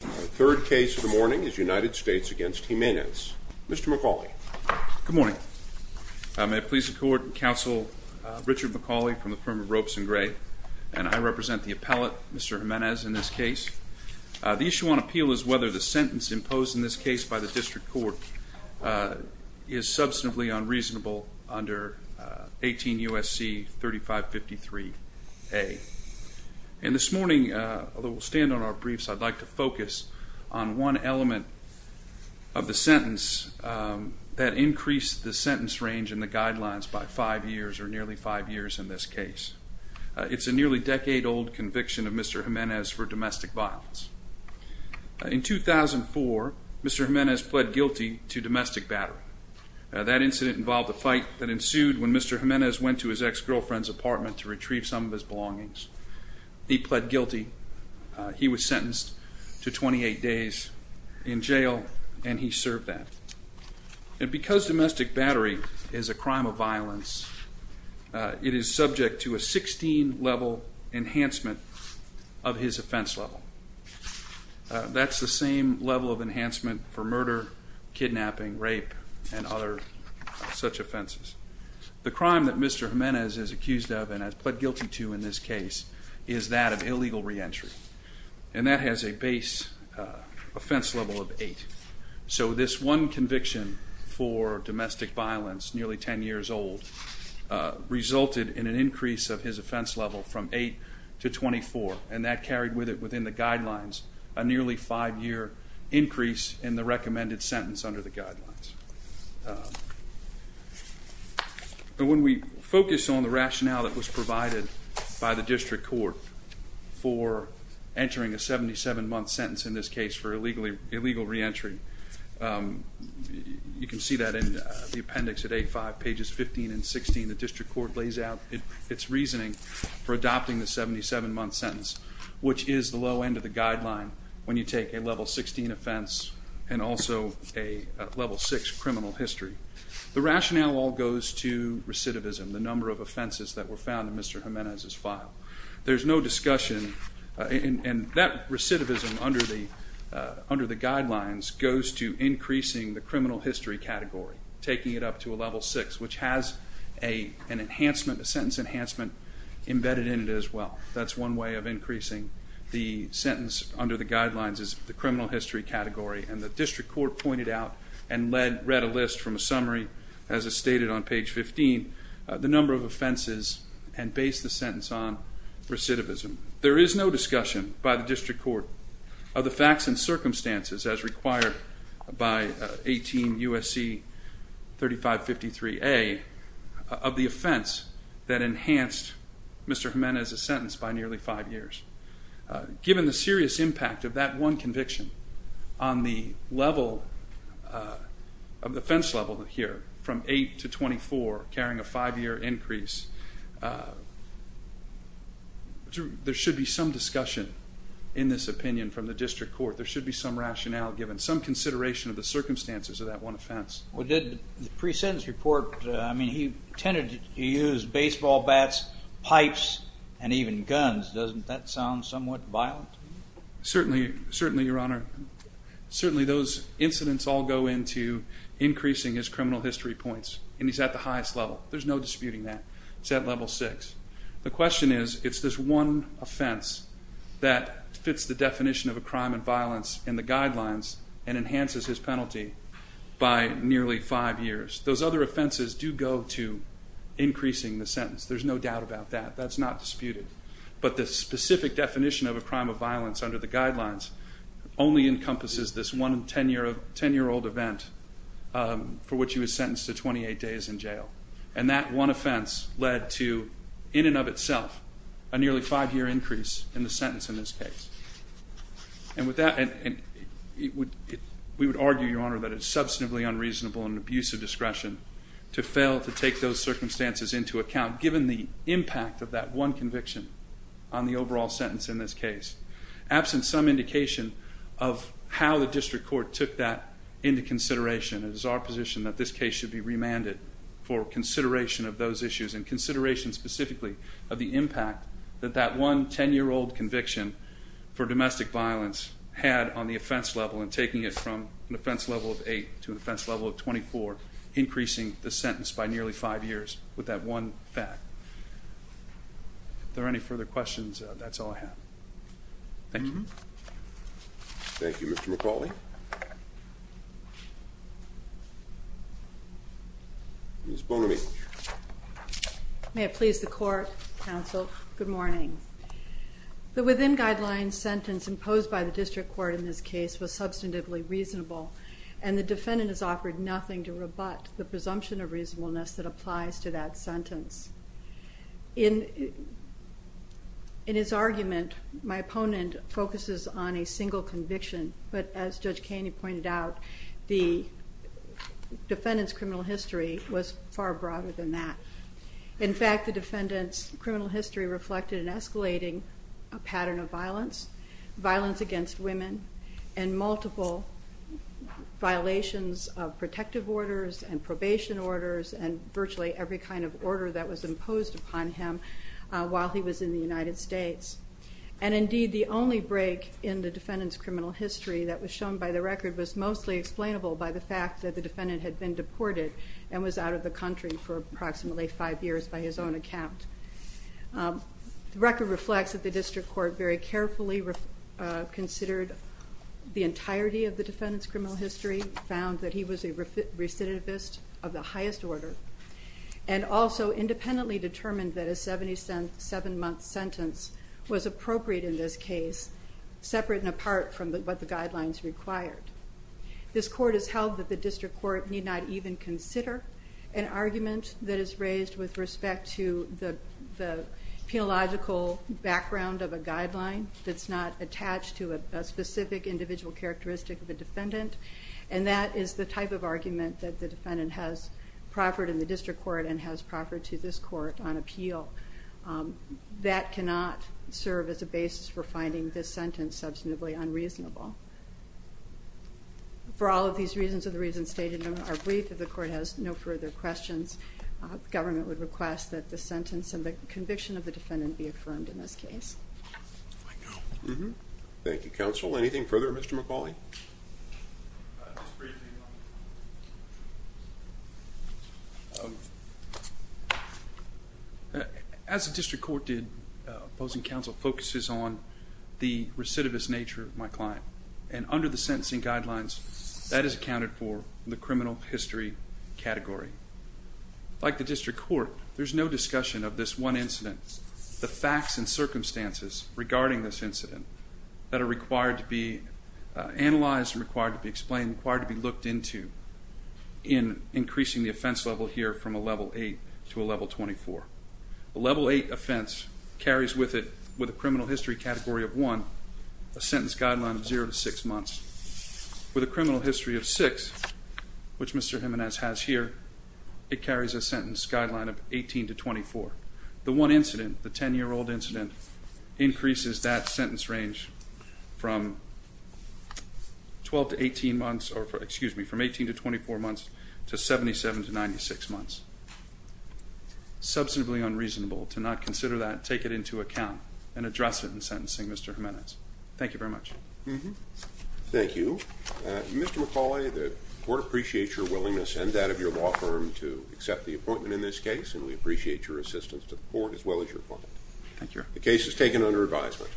The third case of the morning is United States v. Jimenez. Mr. McAuley. Good morning. May it please the Court, Counsel Richard McAuley from the firm of Ropes & Gray, and I represent the appellate, Mr. Jimenez, in this case. The issue on appeal is whether the sentence imposed in this case by the District Court is substantively unreasonable under 18 U.S.C. 3553A. And this morning, although we'll stand on our briefs, I'd like to focus on one element of the sentence that increased the sentence range in the guidelines by five years or nearly five years in this case. It's a nearly decade-old conviction of Mr. Jimenez for domestic violence. In 2004, Mr. Jimenez pled guilty to domestic battery. That incident involved a fight that ensued when Mr. Jimenez went to his ex-girlfriend's apartment to retrieve some of his belongings. He pled guilty. He was sentenced to 28 days in jail, and he served that. And because domestic battery is a crime of violence, it is subject to a 16-level enhancement of his offense level. That's the same level of enhancement for murder, kidnapping, rape, and other such offenses. The crime that Mr. Jimenez is accused of and has pled guilty to in this case is that of illegal reentry. And that has a base offense level of 8. So this one conviction for domestic violence, nearly 10 years old, resulted in an increase of his offense level from 8 to 24, and that carried with it within the guidelines a nearly five-year increase in the recommended sentence under the guidelines. But when we focus on the rationale that was provided by the district court for entering a 77-month sentence in this case for illegal reentry, you can see that in the appendix at 8.5, pages 15 and 16. The district court lays out its reasoning for adopting the 77-month sentence, which is the low end of the guideline when you take a level 16 offense and also a level 6 criminal history. The rationale all goes to recidivism, the number of offenses that were found in Mr. Jimenez's file. There's no discussion, and that recidivism under the guidelines goes to increasing the criminal history category, taking it up to a level 6, which has a sentence enhancement embedded in it as well. That's one way of increasing the sentence under the guidelines is the criminal history category. And the district court pointed out and read a list from a summary, as is stated on page 15, the number of offenses and based the sentence on recidivism. There is no discussion by the district court of the facts and circumstances as required by 18 U.S.C. 3553A of the offense that enhanced Mr. Jimenez's sentence by nearly five years. Given the serious impact of that one conviction on the offense level here from 8 to 24, carrying a five-year increase, there should be some discussion in this opinion from the district court. There should be some rationale given, some consideration of the circumstances of that one offense. Well, did the pre-sentence report, I mean, he tended to use baseball bats, pipes, and even guns. Doesn't that sound somewhat violent? Certainly, Your Honor. Certainly, those incidents all go into increasing his criminal history points, and he's at the highest level. There's no disputing that. It's at level six. The question is, it's this one offense that fits the definition of a crime and violence in the guidelines and enhances his penalty by nearly five years. Those other offenses do go to increasing the sentence. There's no doubt about that. That's not disputed. But the specific definition of a crime of violence under the guidelines only encompasses this one 10-year-old event for which he was sentenced to 28 days in jail. And that one offense led to, in and of itself, a nearly five-year increase in the sentence in this case. And with that, we would argue, Your Honor, that it's substantively unreasonable and an abuse of discretion to fail to take those circumstances into account given the impact of that one conviction on the overall sentence in this case. Absent some indication of how the district court took that into consideration, it is our position that this case should be remanded for consideration of those issues and consideration specifically of the impact that that one 10-year-old conviction for domestic violence had on the offense level and taking it from an offense level of eight to an offense level of 24, increasing the sentence by nearly five years with that one fact. If there are any further questions, that's all I have. Thank you. Thank you, Mr. McCauley. Ms. Bonamy. May it please the Court, Counsel, good morning. The within guidelines sentence imposed by the district court in this case was substantively reasonable, and the defendant is offered nothing to rebut the presumption of reasonableness that applies to that sentence. In his argument, my opponent focuses on a single conviction, but as Judge Kaney pointed out, the defendant's criminal history was far broader than that. In fact, the defendant's criminal history reflected an escalating pattern of violence, violence against women and multiple violations of protective orders and probation orders and virtually every kind of order that was imposed upon him while he was in the United States. And indeed, the only break in the defendant's criminal history that was shown by the record was mostly explainable by the fact that the defendant had been deported and was out of the country for approximately five years by his own account. The record reflects that the district court very carefully considered the entirety of the defendant's criminal history, found that he was a recidivist of the highest order, and also independently determined that a 77-month sentence was appropriate in this case, separate and apart from what the guidelines required. This court has held that the district court need not even consider an argument that is raised with respect to the penological background of a guideline that's not attached to a specific individual characteristic of a defendant, and that is the type of argument that the defendant has proffered in the district court and has proffered to this court on appeal. That cannot serve as a basis for finding this sentence substantively unreasonable. For all of these reasons and the reasons stated in our brief, if the court has no further questions, the government would request that the sentence and the conviction of the defendant be affirmed in this case. Thank you, counsel. Anything further, Mr. McAuley? Just briefly. As the district court did, opposing counsel focuses on the recidivist nature of my client, and under the sentencing guidelines, that is accounted for in the criminal history category. Like the district court, there's no discussion of this one incident, the facts and circumstances regarding this incident that are required to be analyzed, required to be explained, required to be looked into in increasing the offense level here from a level 8 to a level 24. A level 8 offense carries with it, with a criminal history category of 1, a sentence guideline of 0 to 6 months. With a criminal history of 6, which Mr. Jimenez has here, it carries a sentence guideline of 18 to 24. The one incident, the 10-year-old incident, increases that sentence range from 12 to 18 months, or excuse me, from 18 to 24 months to 77 to 96 months. Substantively unreasonable to not consider that, take it into account, and address it in sentencing, Mr. Jimenez. Thank you very much. Thank you. Mr. McAuley, the court appreciates your willingness and that of your law firm to accept the appointment in this case, and we appreciate your assistance to the court as well as your department. Thank you. The case is taken under advisement.